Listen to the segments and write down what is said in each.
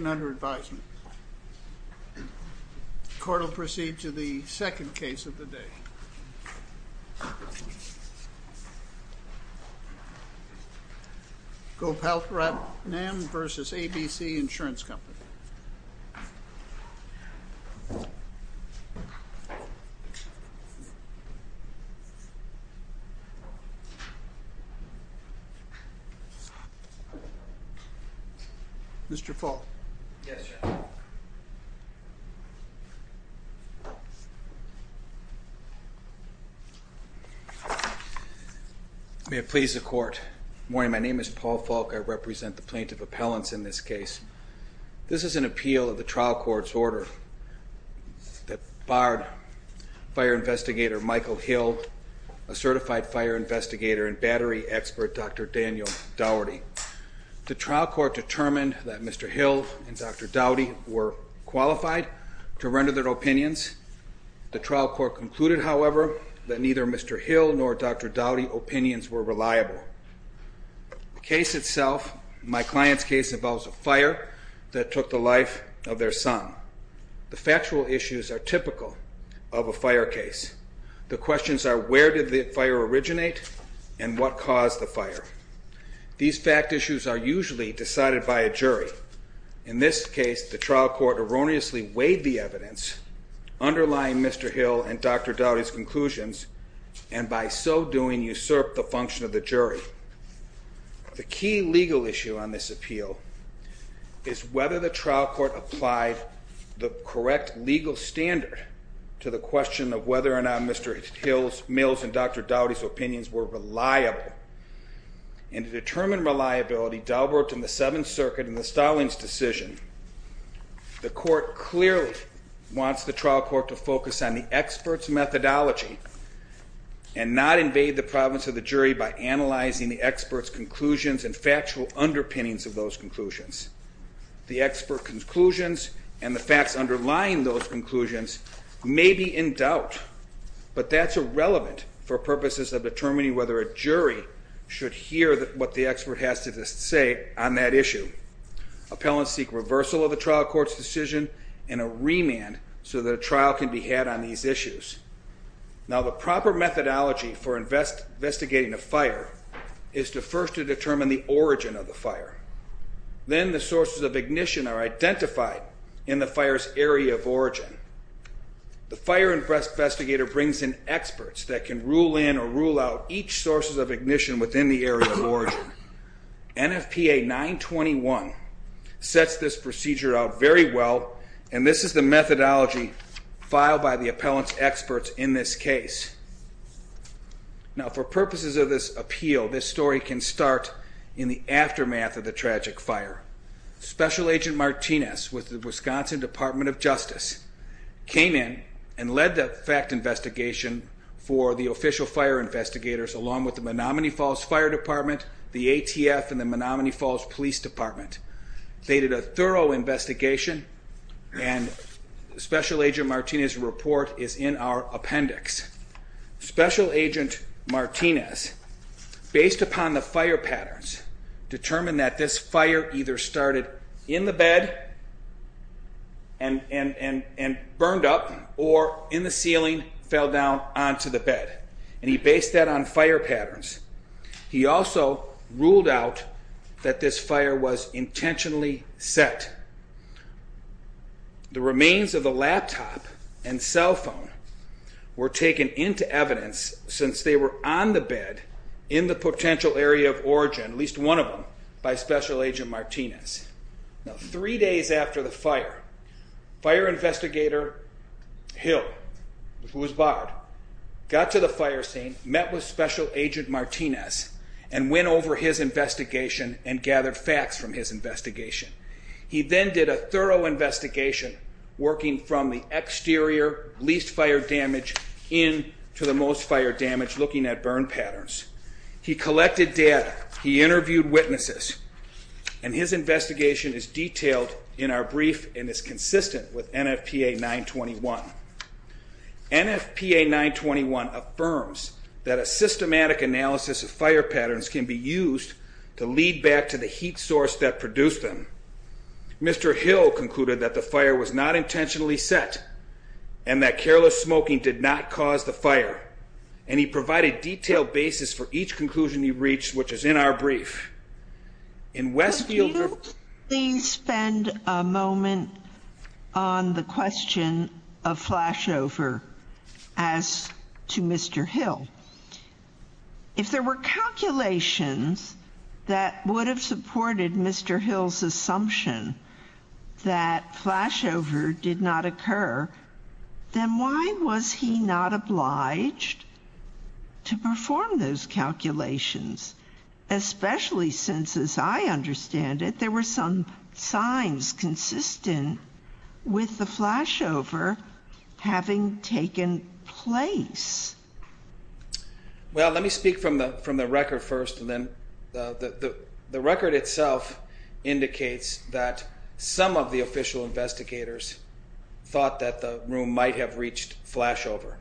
Gopalratnam v. ABC Insurance Company Yes, sir. May it please the Court. Good morning. My name is Paul Falk. I represent the plaintiff appellants in this case. This is an appeal of the trial court's order that barred Fire Investigator Michael Hill, a certified fire investigator and battery expert, Dr. Daniel Dougherty. The trial court determined that Mr. Hill and Dr. Dougherty were qualified to render their opinions. The trial court concluded, however, that neither Mr. Hill nor Dr. Dougherty's opinions were reliable. The case itself, my client's case, involves a fire that took the life of their son. The factual issues are typical of a fire case. The questions are where did the fire originate and what caused the fire. These fact issues are usually decided by a jury. In this case, the trial court erroneously weighed the evidence underlying Mr. Hill and Dr. Dougherty's conclusions and by so doing usurped the function of the jury. The key legal issue on this appeal is whether the trial court applied the correct legal standard to the question of whether or not Mr. Hill's, Mills' and Dr. Dougherty's opinions were reliable. And to determine reliability, Dalbert and the Seventh Circuit in the Stallings decision, the court clearly wants the trial court to focus on the expert's methodology and not invade the province of the jury by analyzing the expert's conclusions and factual underpinnings of those conclusions. The expert conclusions and the facts underlying those conclusions may be in doubt, but that's irrelevant for purposes of determining whether a jury should hear what the expert has to say on that issue. Appellants seek reversal of the trial court's decision and a remand so that a trial can be had on these issues. Now the proper methodology for investigating a fire is to first determine the origin of the fire. Then the sources of ignition are identified in the fire's area of origin. The fire investigator brings in experts that can rule in or rule out each sources of ignition within the area of origin. NFPA 921 sets this procedure out very well, and this is the methodology filed by the appellant's experts in this case. Now for purposes of this appeal, this story can start in the aftermath of the tragic fire. Special Agent Martinez with the Wisconsin Department of Justice came in and led the fact investigation for the official fire investigators along with the Menomonee Falls Fire Department, the ATF, and the Menomonee Falls Police Department. They did a thorough investigation, and Special Agent Martinez's report is in our appendix. Special Agent Martinez, based upon the fire patterns, determined that this fire either started in the bed and burned up or in the ceiling, fell down onto the bed, and he based that on fire patterns. He also ruled out that this fire was intentionally set. The remains of the laptop and cell phone were taken into evidence since they were on the bed in the potential area of origin, at least one of them, by Special Agent Martinez. Now three days after the fire, Fire Investigator Hill, who was barred, got to the fire scene, met with Special Agent Martinez, and went over his investigation and gathered facts from his investigation. He then did a thorough investigation, working from the exterior, least fire damage, in to the most fire damage, looking at burn patterns. He collected data, he interviewed witnesses, and his investigation is detailed in our brief and is consistent with NFPA 921. NFPA 921 affirms that a systematic analysis of fire patterns can be used to lead back to the heat source that produced them. Mr. Hill concluded that the fire was not intentionally set, and that careless smoking did not cause the fire, and he provided detailed basis for each conclusion he reached, which is in our brief. In Westfield... Could you please spend a moment on the question of flashover as to Mr. Hill? If there were calculations that would have supported Mr. Hill's assumption that flashover did not occur, then why was he not obliged to perform those calculations? Especially since, as I understand it, there were some signs consistent with the flashover having taken place. Well, let me speak from the record first, and then... The record itself indicates that some of the official investigators thought that the room might have reached flashover.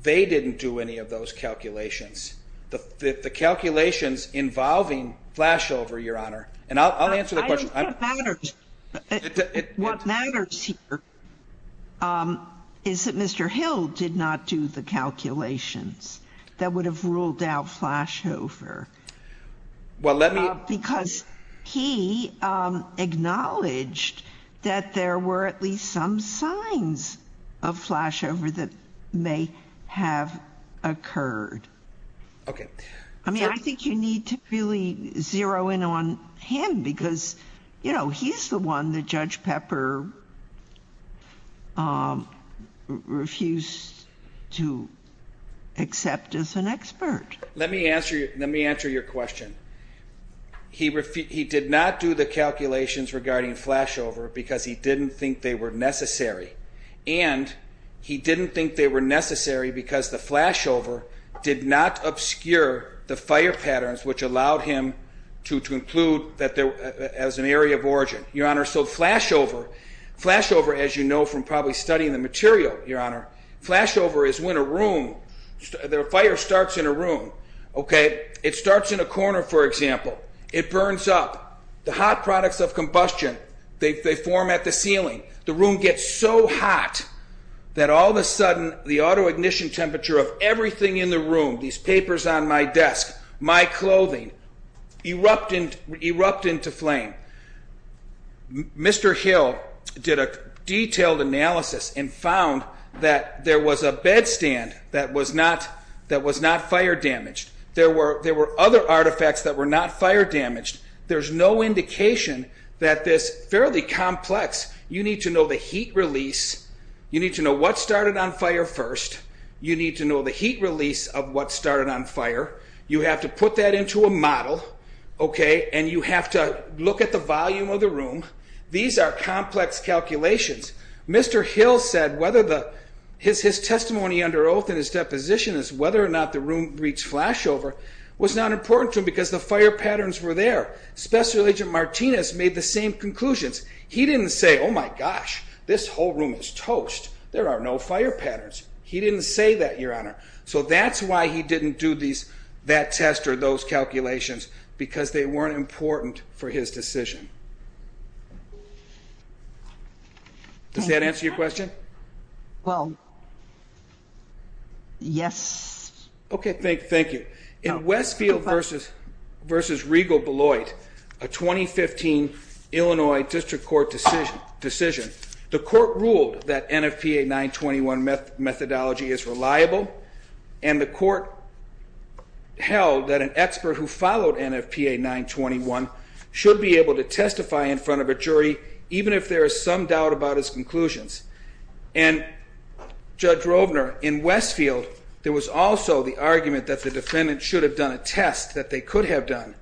They didn't do any of those calculations. The calculations involving flashover, Your Honor, and I'll answer the question... What matters here is that Mr. Hill did not do the calculations that would have ruled out flashover. Well, let me... Because he acknowledged that there were at least some signs of flashover that may have occurred. Okay. I mean, I think you need to really zero in on him because, you know, he's the one that Judge Pepper refused to accept as an expert. Let me answer your question. He did not do the calculations regarding flashover because he didn't think they were necessary. And he didn't think they were necessary because the flashover did not obscure the fire patterns which allowed him to conclude that there was an area of origin. Your Honor, so flashover... Flashover, as you know from probably studying the material, Your Honor, flashover is when a room... The fire starts in a room, okay? It starts in a corner, for example. It burns up. The hot products of combustion, they form at the ceiling. The room gets so hot that all of a sudden the auto-ignition temperature of everything in the room, these papers on my desk, my clothing, erupt into flame. Mr. Hill did a detailed analysis and found that there was a bed stand that was not fire damaged. There were other artifacts that were not fire damaged. There's no indication that this fairly complex... You need to know the heat release. You need to know what started on fire first. You need to know the heat release of what started on fire. You have to put that into a model, okay? And you have to look at the volume of the room. These are complex calculations. Mr. Hill said whether the... His testimony under oath in his deposition is whether or not the room reached flashover was not important to him because the fire patterns were there. Special Agent Martinez made the same conclusions. He didn't say, oh my gosh, this whole room is toast. There are no fire patterns. He didn't say that, Your Honor. So that's why he didn't do that test or those calculations, because they weren't important for his decision. Does that answer your question? Well, yes. Okay, thank you. In Westfield v. Regal-Beloit, a 2015 Illinois District Court decision, the court ruled that NFPA 921 methodology is reliable. And the court held that an expert who followed NFPA 921 should be able to testify in front of a jury, even if there is some doubt about his conclusions. And, Judge Rovner, in Westfield, there was also the argument that the defendant should have done a test that they could have done.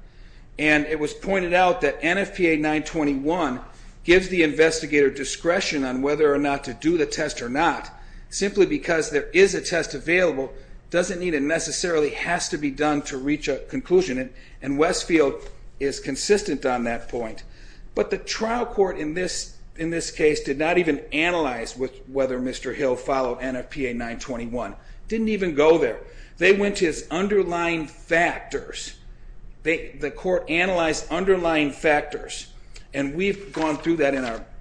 And it was pointed out that NFPA 921 gives the investigator discretion on whether or not to do the test or not, simply because there is a test available, doesn't mean it necessarily has to be done to reach a conclusion. And Westfield is consistent on that point. But the trial court in this case did not even analyze whether Mr. Hill followed NFPA 921. Didn't even go there. They went to his underlying factors. The court analyzed underlying factors. And we've gone through that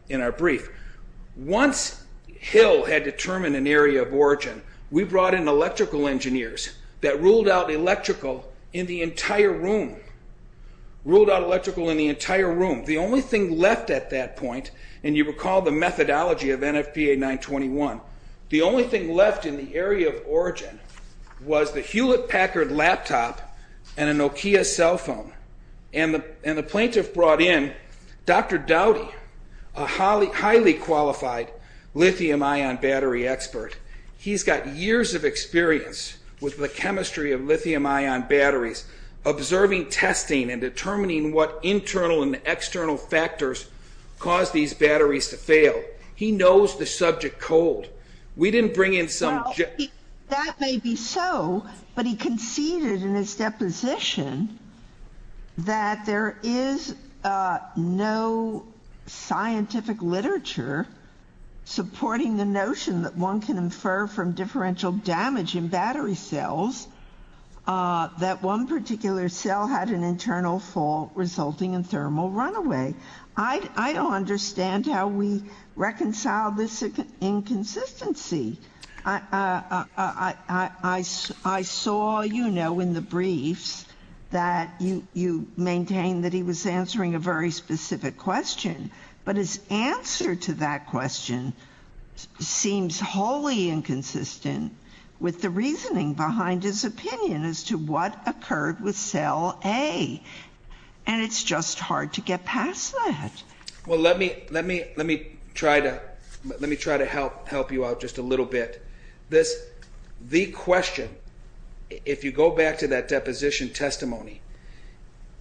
in our brief. Once Hill had determined an area of origin, we brought in electrical engineers that ruled out electrical in the entire room. Ruled out electrical in the entire room. The only thing left at that point, and you recall the methodology of NFPA 921, the only thing left in the area of origin was the Hewlett Packard laptop and a Nokia cell phone. And the plaintiff brought in Dr. Dowdy, a highly qualified lithium ion battery expert. He's got years of experience with the chemistry of lithium ion batteries, observing testing and determining what internal and external factors cause these batteries to fail. He knows the subject cold. Well, that may be so, but he conceded in his deposition that there is no scientific literature supporting the notion that one can infer from differential damage in battery cells that one particular cell had an internal fault resulting in thermal runaway. I don't understand how we reconcile this inconsistency. I saw, you know, in the briefs that you maintain that he was answering a very specific question, but his answer to that question seems wholly inconsistent with the reasoning behind his opinion as to what occurred with cell A. And it's just hard to get past that. Well, let me try to help you out just a little bit. The question, if you go back to that deposition testimony,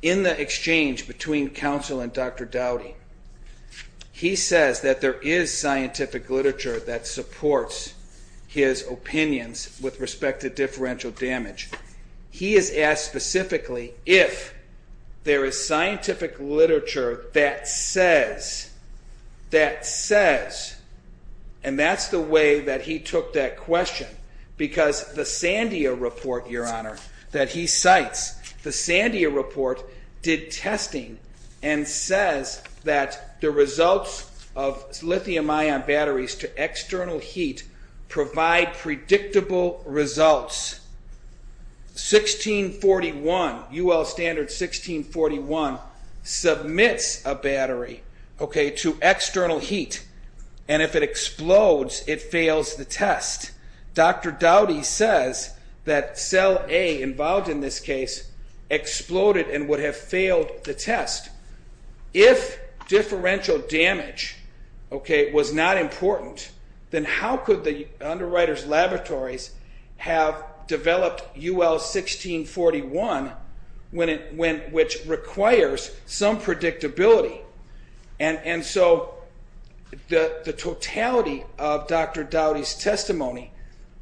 in the exchange between counsel and Dr. Dowdy, he says that there is scientific literature that supports his opinions with respect to differential damage. He is asked specifically if there is scientific literature that says, that says, and that's the way that he took that question, because the Sandia report, Your Honor, that he cites, the Sandia report did testing and says that the results of lithium ion batteries to external heat provide predictable results. 1641, UL standard 1641, submits a battery to external heat, and if it explodes, it fails the test. Dr. Dowdy says that cell A involved in this case exploded and would have failed the test. If differential damage was not important, then how could the underwriter's laboratories have developed UL 1641, which requires some predictability? And so the totality of Dr. Dowdy's testimony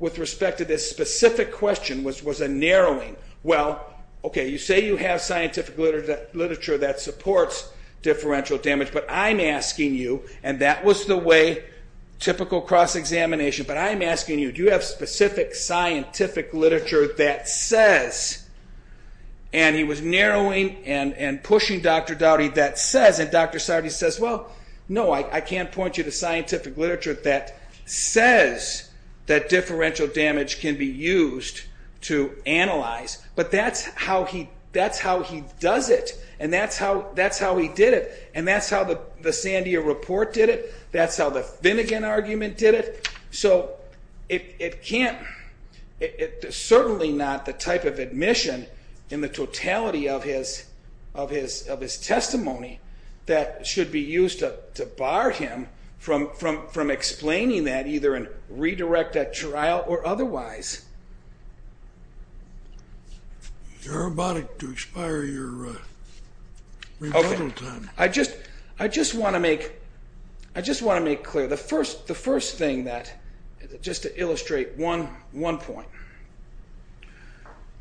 with respect to this specific question was a narrowing. Well, okay, you say you have scientific literature that supports differential damage, but I'm asking you, and that was the way, typical cross-examination, but I'm asking you, do you have specific scientific literature that says, and he was narrowing and pushing Dr. Dowdy, that says, and Dr. Sardi says, well, no, I can't point you to scientific literature that says that differential damage can be used to analyze, but that's how he does it, and that's how he did it, and that's how the Sandia report did it, that's how the Finnegan argument did it. So it can't, it's certainly not the type of admission in the totality of his testimony that should be used to bar him from explaining that, either in redirect at trial or otherwise. You're about to expire your rebuttal time. I just want to make clear, the first thing that, just to illustrate one point,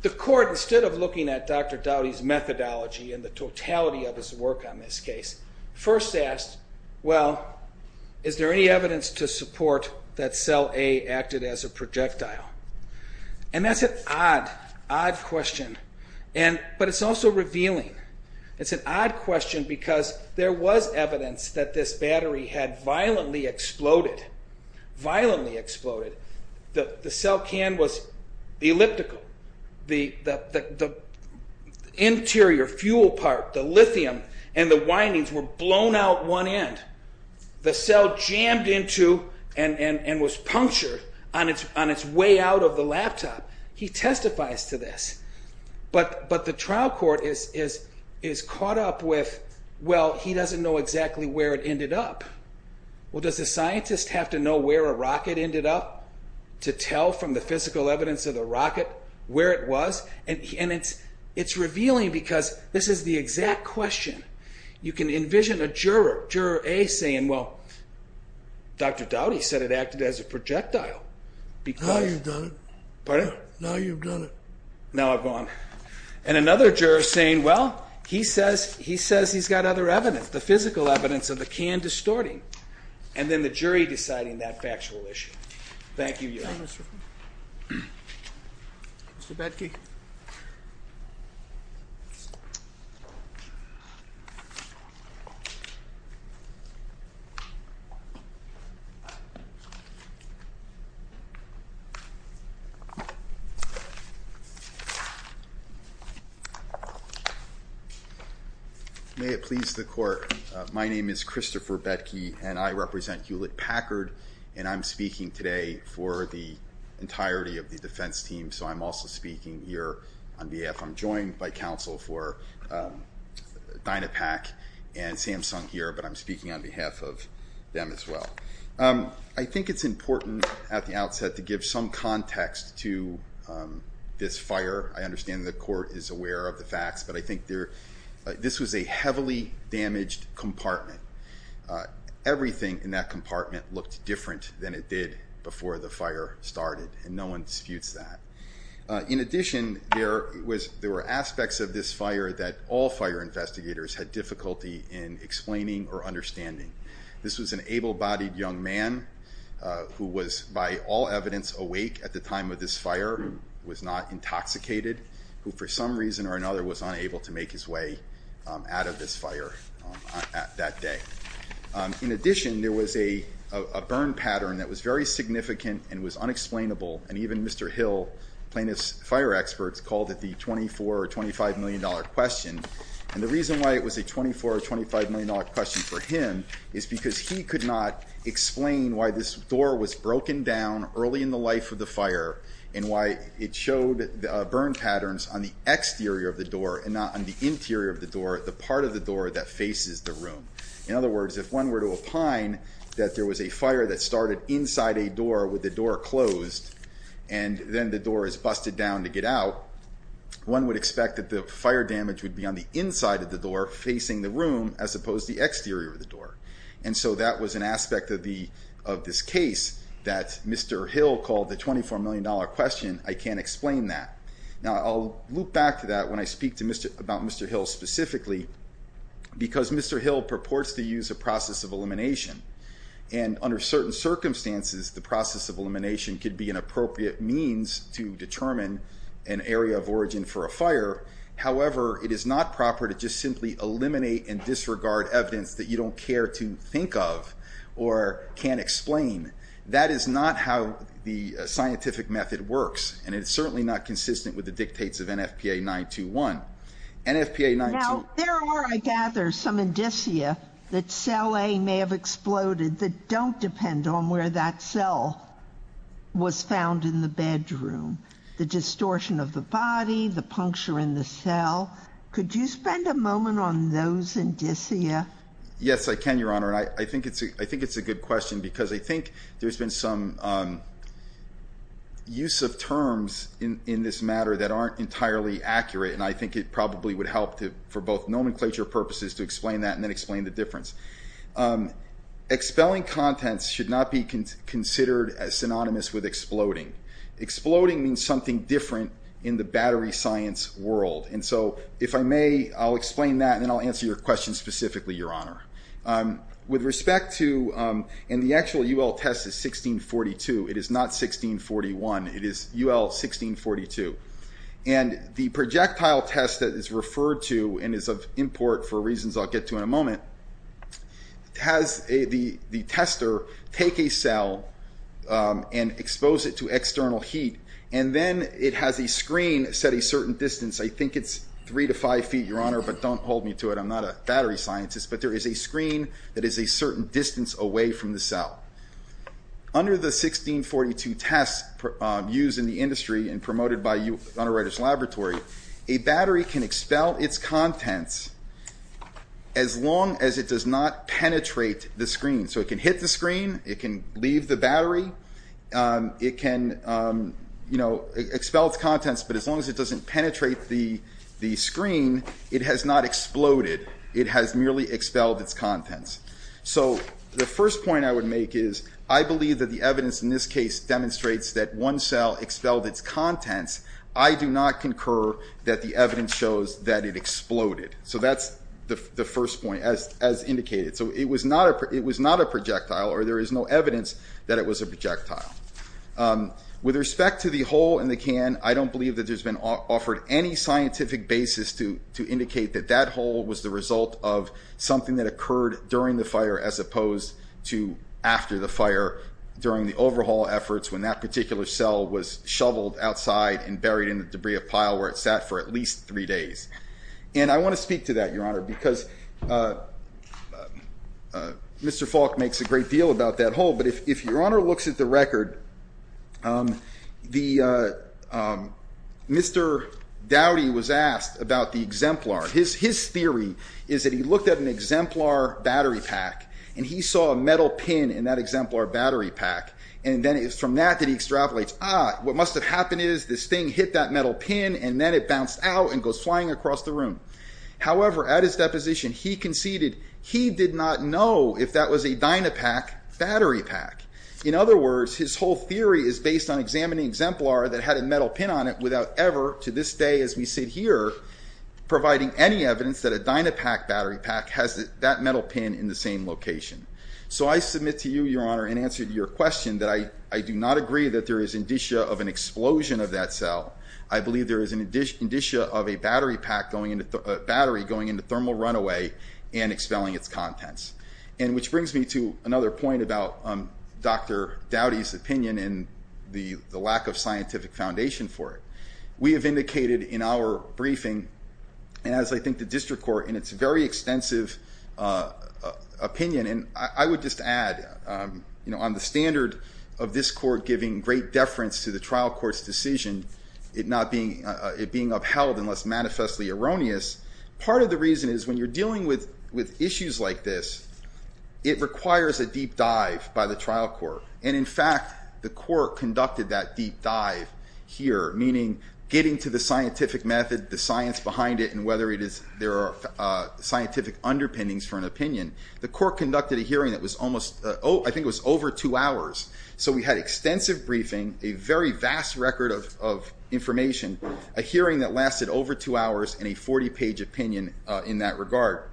the court, instead of looking at Dr. Dowdy's methodology and the totality of his work on this case, first asked, well, is there any evidence to support that cell A acted as a projectile? And that's an odd, odd question, but it's also revealing. It's an odd question because there was evidence that this battery had violently exploded, violently exploded. The cell can was elliptical. The interior fuel part, the lithium and the windings were blown out one end. The cell jammed into and was punctured on its way out of the laptop. He testifies to this, but the trial court is caught up with, well, he doesn't know exactly where it ended up. Well, does a scientist have to know where a rocket ended up to tell from the physical evidence of the rocket where it was? And it's revealing because this is the exact question. You can envision a juror, Juror A, saying, well, Dr. Dowdy said it acted as a projectile. Now you've done it. Pardon? Now you've done it. Now I've gone. And another juror saying, well, he says he's got other evidence, the physical evidence of the can distorting. And then the jury deciding that factual issue. Thank you, Your Honor. Mr. Batke. May it please the court. My name is Christopher Batke and I represent Hewlett Packard. And I'm speaking today for the entirety of the defense team. So I'm also speaking here on behalf. I'm joined by counsel for Dynapack and Samsung here, but I'm speaking on behalf of them as well. I think it's important at the outset to give some context to this fire. I understand the court is aware of the facts, but I think this was a heavily damaged compartment. Everything in that compartment looked different than it did before the fire started. And no one disputes that. In addition, there were aspects of this fire that all fire investigators had difficulty in explaining or understanding. This was an able-bodied young man who was by all evidence awake at the time of this fire, was not intoxicated, who for some reason or another was unable to make his way out of this fire that day. In addition, there was a burn pattern that was very significant and was unexplainable. And even Mr. Hill, plaintiff's fire experts, called it the 24 or $25 million question. And the reason why it was a 24 or $25 million question for him is because he could not explain why this door was broken down early in the life of the fire and why it showed burn patterns on the exterior of the door and not on the interior of the door, the part of the door that faces the room. In other words, if one were to opine that there was a fire that started inside a door with the door closed and then the door is busted down to get out, one would expect that the fire damage would be on the inside of the door facing the room as opposed to the exterior of the door. And so that was an aspect of this case that Mr. Hill called the $24 million question, I can't explain that. Now I'll loop back to that when I speak about Mr. Hill specifically, because Mr. Hill purports to use a process of elimination. And under certain circumstances, the process of elimination could be an appropriate means to determine an area of origin for a fire. However, it is not proper to just simply eliminate and disregard evidence that you don't care to think of or can't explain. That is not how the scientific method works, and it's certainly not consistent with the dictates of NFPA 921. Now, there are, I gather, some indicia that cell A may have exploded that don't depend on where that cell was found in the bedroom. The distortion of the body, the puncture in the cell. Could you spend a moment on those indicia? Yes, I can, Your Honor, and I think it's a good question because I think there's been some use of terms in this matter that aren't entirely accurate. And I think it probably would help for both nomenclature purposes to explain that and then explain the difference. Expelling contents should not be considered as synonymous with exploding. Exploding means something different in the battery science world. And so, if I may, I'll explain that and then I'll answer your question specifically, Your Honor. With respect to, and the actual UL test is 1642, it is not 1641, it is UL 1642. And the projectile test that is referred to and is of import for reasons I'll get to in a moment, has the tester take a cell and expose it to external heat and then it has a screen set a certain distance. I think it's three to five feet, Your Honor, but don't hold me to it. I'm not a battery scientist, but there is a screen that is a certain distance away from the cell. Now, under the 1642 test used in the industry and promoted by Unwriter's Laboratory, a battery can expel its contents as long as it does not penetrate the screen. So it can hit the screen, it can leave the battery, it can expel its contents, but as long as it doesn't penetrate the screen, it has not exploded. It has merely expelled its contents. So the first point I would make is, I believe that the evidence in this case demonstrates that one cell expelled its contents. I do not concur that the evidence shows that it exploded. So that's the first point, as indicated. So it was not a projectile, or there is no evidence that it was a projectile. With respect to the hole in the can, I don't believe that there's been offered any scientific basis to indicate that that hole was the result of something that occurred during the fire, as opposed to after the fire, during the overhaul efforts, when that particular cell was shoveled outside and buried in the debris of pile where it sat for at least three days. And I want to speak to that, Your Honor, because Mr. Falk makes a great deal about that hole, but if Your Honor looks at the record, Mr. Dowdy was asked about the exemplar. His theory is that he looked at an exemplar battery pack, and he saw a metal pin in that exemplar battery pack, and then it was from that that he extrapolates, ah, what must have happened is this thing hit that metal pin, and then it bounced out and goes flying across the room. However, at his deposition, he conceded he did not know if that was a dynapack battery pack. In other words, his whole theory is based on examining exemplar that had a metal pin on it without ever, to this day as we sit here, providing any evidence that a dynapack battery pack has that metal pin in the same location. So I submit to you, Your Honor, in answer to your question, that I do not agree that there is indicia of an explosion of that cell. I believe there is an indicia of a battery going into thermal runaway and expelling its contents. And which brings me to another point about Dr. Dowdy's opinion and the lack of scientific foundation for it. We have indicated in our briefing, and as I think the district court in its very extensive opinion, and I would just add, you know, on the standard of this court giving great deference to the trial court's decision, it not being upheld unless manifestly erroneous, part of the reason is when you're dealing with issues like this, it requires a deep dive by the trial court. And in fact, the court conducted that deep dive here, meaning getting to the scientific method, the science behind it, and whether there are scientific underpinnings for an opinion. The court conducted a hearing that was almost, I think it was over two hours. So we had extensive briefing, a very vast record of information, a hearing that lasted over two hours, and a 40-page opinion in that regard.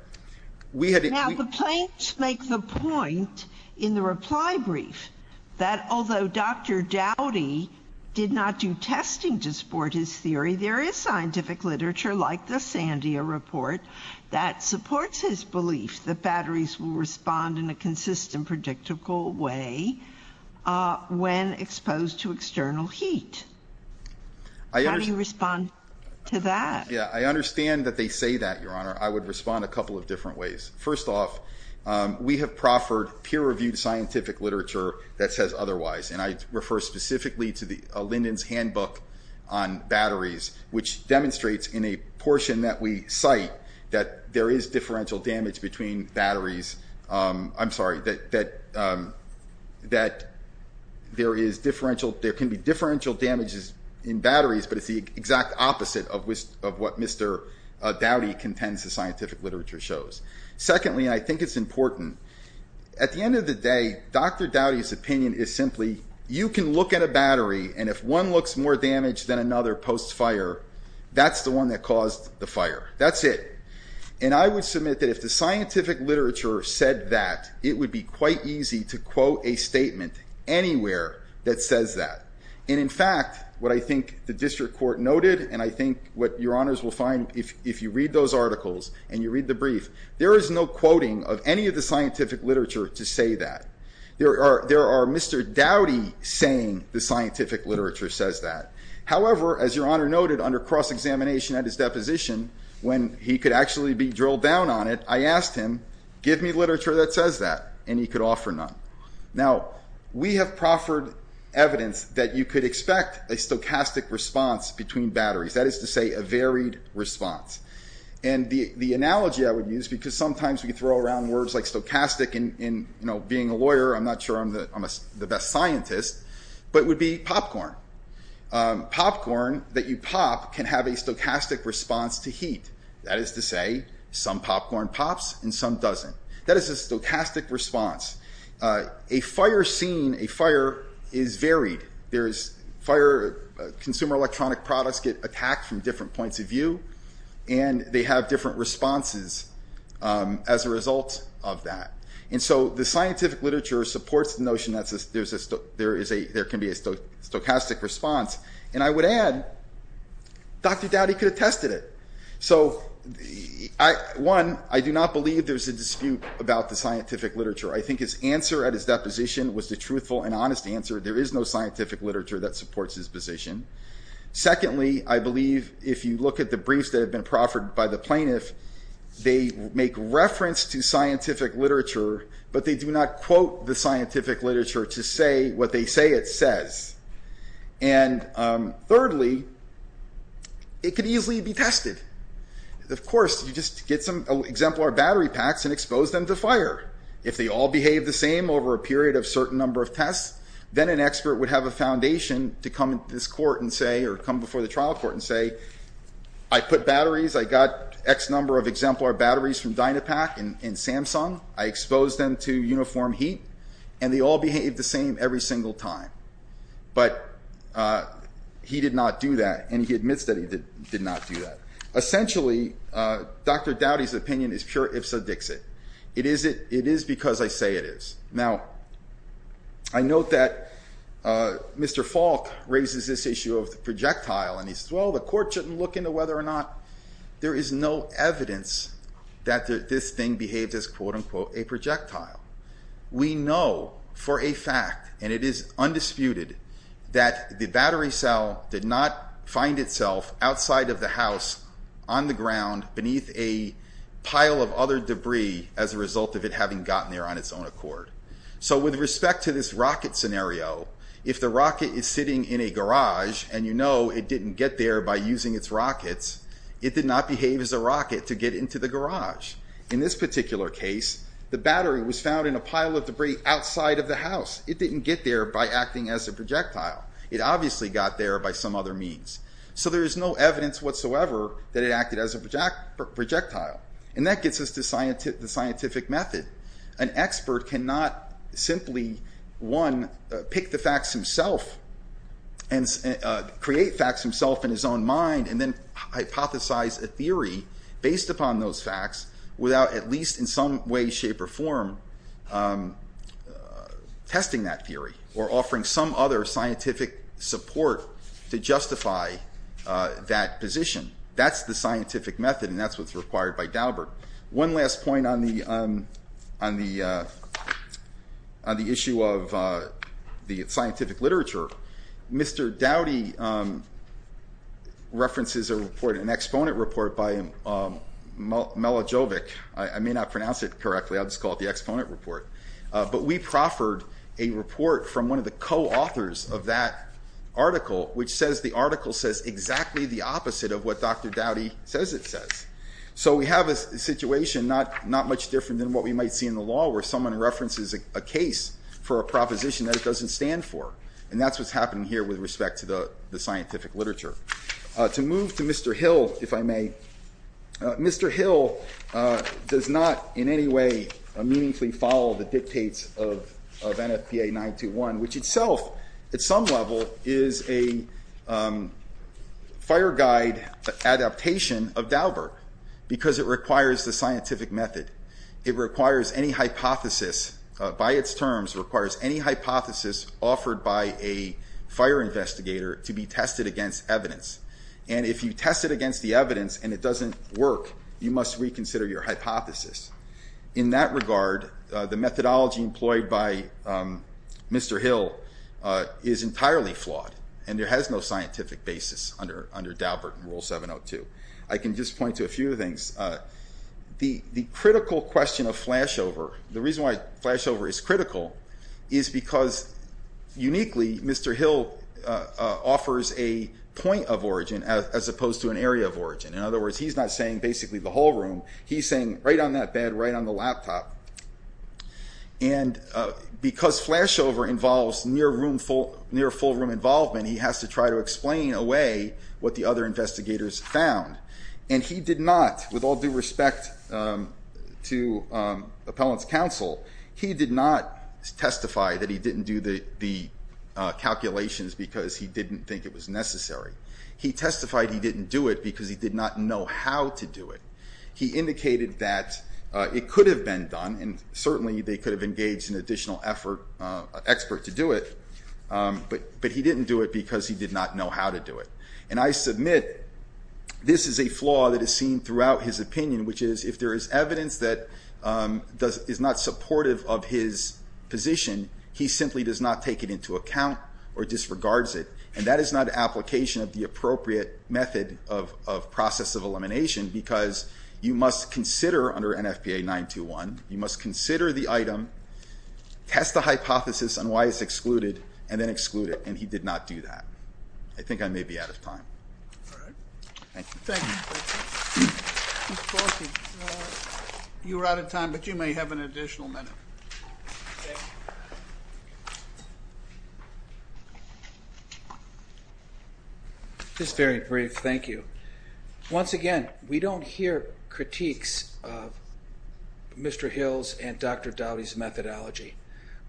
Now the plaintiffs make the point in the reply brief that although Dr. Dowdy did not do testing to support his theory, there is scientific literature, like the Sandia Report, that supports his belief that batteries will respond in a consistent, predictable way. When exposed to external heat. How do you respond to that? Yeah, I understand that they say that, Your Honor. I would respond a couple of different ways. First off, we have proffered peer-reviewed scientific literature that says otherwise, and I refer specifically to Linden's handbook on batteries, which demonstrates in a portion that we cite that there is differential damage between batteries. I'm sorry, that there can be differential damages in batteries, but it's the exact opposite of what Mr. Dowdy contends the scientific literature shows. Secondly, and I think it's important, at the end of the day, Dr. Dowdy's opinion is simply, you can look at a battery, and if one looks more damaged than another post-fire, that's the one that caused the fire. That's it. And I would submit that if the scientific literature said that, it would be quite easy to quote a statement anywhere that says that. And in fact, what I think the district court noted, and I think what Your Honors will find if you read those articles and you read the brief, there is no quoting of any of the scientific literature to say that. There are Mr. Dowdy saying the scientific literature says that. However, as Your Honor noted, under cross-examination at his deposition, when he could actually be drilled down on it, I asked him, give me literature that says that, and he could offer none. Now, we have proffered evidence that you could expect a stochastic response between batteries. That is to say, a varied response. And the analogy I would use, because sometimes we throw around words like stochastic, and being a lawyer, I'm not sure I'm the best scientist, but it would be popcorn. Popcorn that you pop can have a stochastic response to heat. That is to say, some popcorn pops and some doesn't. That is a stochastic response. A fire scene, a fire is varied. Consumer electronic products get attacked from different points of view, and they have different responses as a result of that. And so the scientific literature supports the notion that there can be a stochastic response. And I would add, Dr. Dowdy could have tested it. So, one, I do not believe there's a dispute about the scientific literature. I think his answer at his deposition was the truthful and honest answer, there is no scientific literature that supports his position. Secondly, I believe if you look at the briefs that have been proffered by the plaintiff, they make reference to scientific literature, but they do not quote the scientific literature to say what they say it says. And thirdly, it could easily be tested. Of course, you just get some exemplar battery packs and expose them to fire. If they all behave the same over a period of certain number of tests, then an expert would have a foundation to come to this court and say, or come before the trial court and say, I put batteries, I got X number of exemplar batteries from Dynapack and Samsung, I exposed them to uniform heat, and they all behaved the same every single time. But he did not do that, and he admits that he did not do that. Essentially, Dr. Dowdy's opinion is pure ipsa dixit. It is because I say it is. Now, I note that Mr. Falk raises this issue of the projectile, and he says, well, the court shouldn't look into whether or not, there is no evidence that this thing behaves as, quote unquote, a projectile. We know for a fact, and it is undisputed, that the battery cell did not find itself outside of the house, on the ground, beneath a pile of other debris, as a result of it having gotten there on its own accord. So with respect to this rocket scenario, if the rocket is sitting in a garage, and you know it didn't get there by using its rockets, it did not behave as a rocket to get into the garage. In this particular case, the battery was found in a pile of debris outside of the house. It didn't get there by acting as a projectile. It obviously got there by some other means. So there is no evidence whatsoever that it acted as a projectile. And that gets us to the scientific method. An expert cannot simply, one, pick the facts himself, create facts himself in his own mind, and then hypothesize a theory based upon those facts without at least in some way, shape, or form, testing that theory, or offering some other scientific support to justify that position. That's the scientific method, and that's what's required by Daubert. One last point on the issue of the scientific literature. Mr. Dowdy references a report, an exponent report by Melojovic. I may not pronounce it correctly, I'll just call it the exponent report. But we proffered a report from one of the co-authors of that article, which says the article says exactly the opposite of what Dr. Dowdy says it says. So we have a situation not much different than what we might see in the law, where someone references a case for a proposition that it doesn't stand for. And that's what's happening here with respect to the scientific literature. Mr. Hill, if I may. Mr. Hill does not, in any way, meaningfully follow the dictates of NFPA 921, which itself, at some level, is a fire guide adaptation of Daubert, because it requires the scientific method. It requires any hypothesis, by its terms, requires any hypothesis offered by a fire investigator to be tested against evidence. And if you test it against the evidence and it doesn't work, you must reconsider your hypothesis. In that regard, the methodology employed by Mr. Hill is entirely flawed, and there has no scientific basis under Daubert and Rule 702. I can just point to a few things. The critical question of flashover, the reason why flashover is critical, is because, uniquely, Mr. Hill offers a point of origin as opposed to an area of origin. In other words, he's not saying basically the whole room. He's saying right on that bed, right on the laptop. And because flashover involves near full room involvement, he has to try to explain away what the other investigators found. And he did not, with all due respect to appellant's counsel, he did not testify that he didn't do the calculations because he didn't think it was necessary. He testified he didn't do it because he did not know how to do it. He indicated that it could have been done, and certainly they could have engaged an additional expert to do it, but he didn't do it because he did not know how to do it. And I submit this is a flaw that is seen throughout his opinion, which is if there is evidence that is not supportive of his position, he simply does not take it into account or disregards it. And that is not an application of the appropriate method of process of elimination because you must consider, under NFPA 921, you must consider the item, test the hypothesis on why it's excluded, and then exclude it. And he did not do that. I think I may be out of time. Thank you. Thank you. You were out of time, but you may have an additional minute. Thank you. Just very brief, thank you. Once again, we don't hear critiques of Mr. Hill's and Dr. Dowdy's methodology.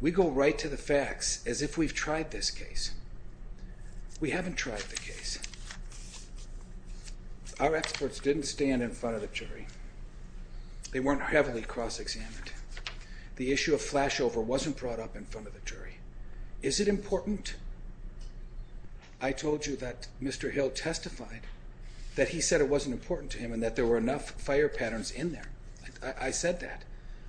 We go right to the facts as if we've tried this case. We haven't tried the case. Our experts didn't stand in front of the jury. They weren't heavily cross-examined. The issue of flashover wasn't in front of the jury. Is it important? I told you that Mr. Hill testified that he said it wasn't important to him and that there were enough fire patterns in there. I said that.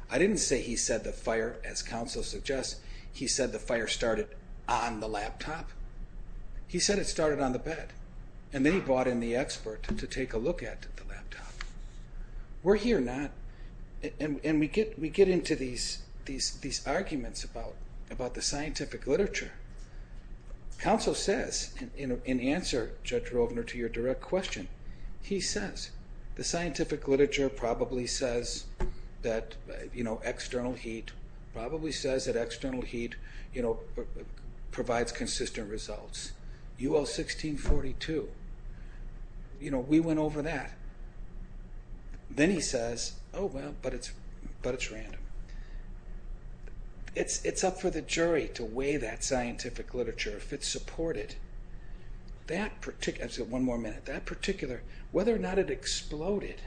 I didn't say he said the fire, as counsel suggests, he said the fire started on the laptop. He said it started on the bed. And then he brought in the expert to take a look at the laptop. Were he or not, and we get into these arguments about the scientific literature. Counsel says, in answer, Judge Rovner, to your direct question, he says the scientific literature probably says that, you know, external heat, probably says that external heat, you know, provides consistent results. UL 1642, you know, we went over that. Then he says, oh, well, but it's random. It's up for the jury to weigh that scientific literature if it's supported. That particular, one more minute, that particular, whether or not it exploded,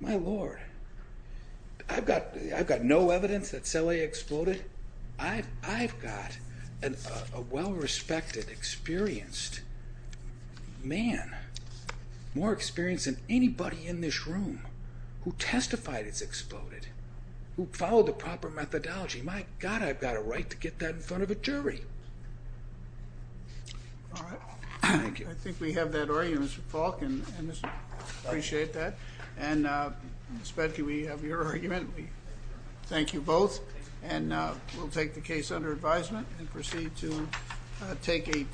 my Lord, I've got no evidence that Celi exploded. I've got a well-respected, experienced man, more experienced than anybody in this room who testified it's exploded. Who followed the proper methodology. My God, I've got a right to get that in front of a jury. All right. I think we have that argument, Mr. Falk, and I appreciate that. And Ms. Fedke, we have your argument. Thank you both. And we'll take the case under advisement and proceed to take a 10-minute recess.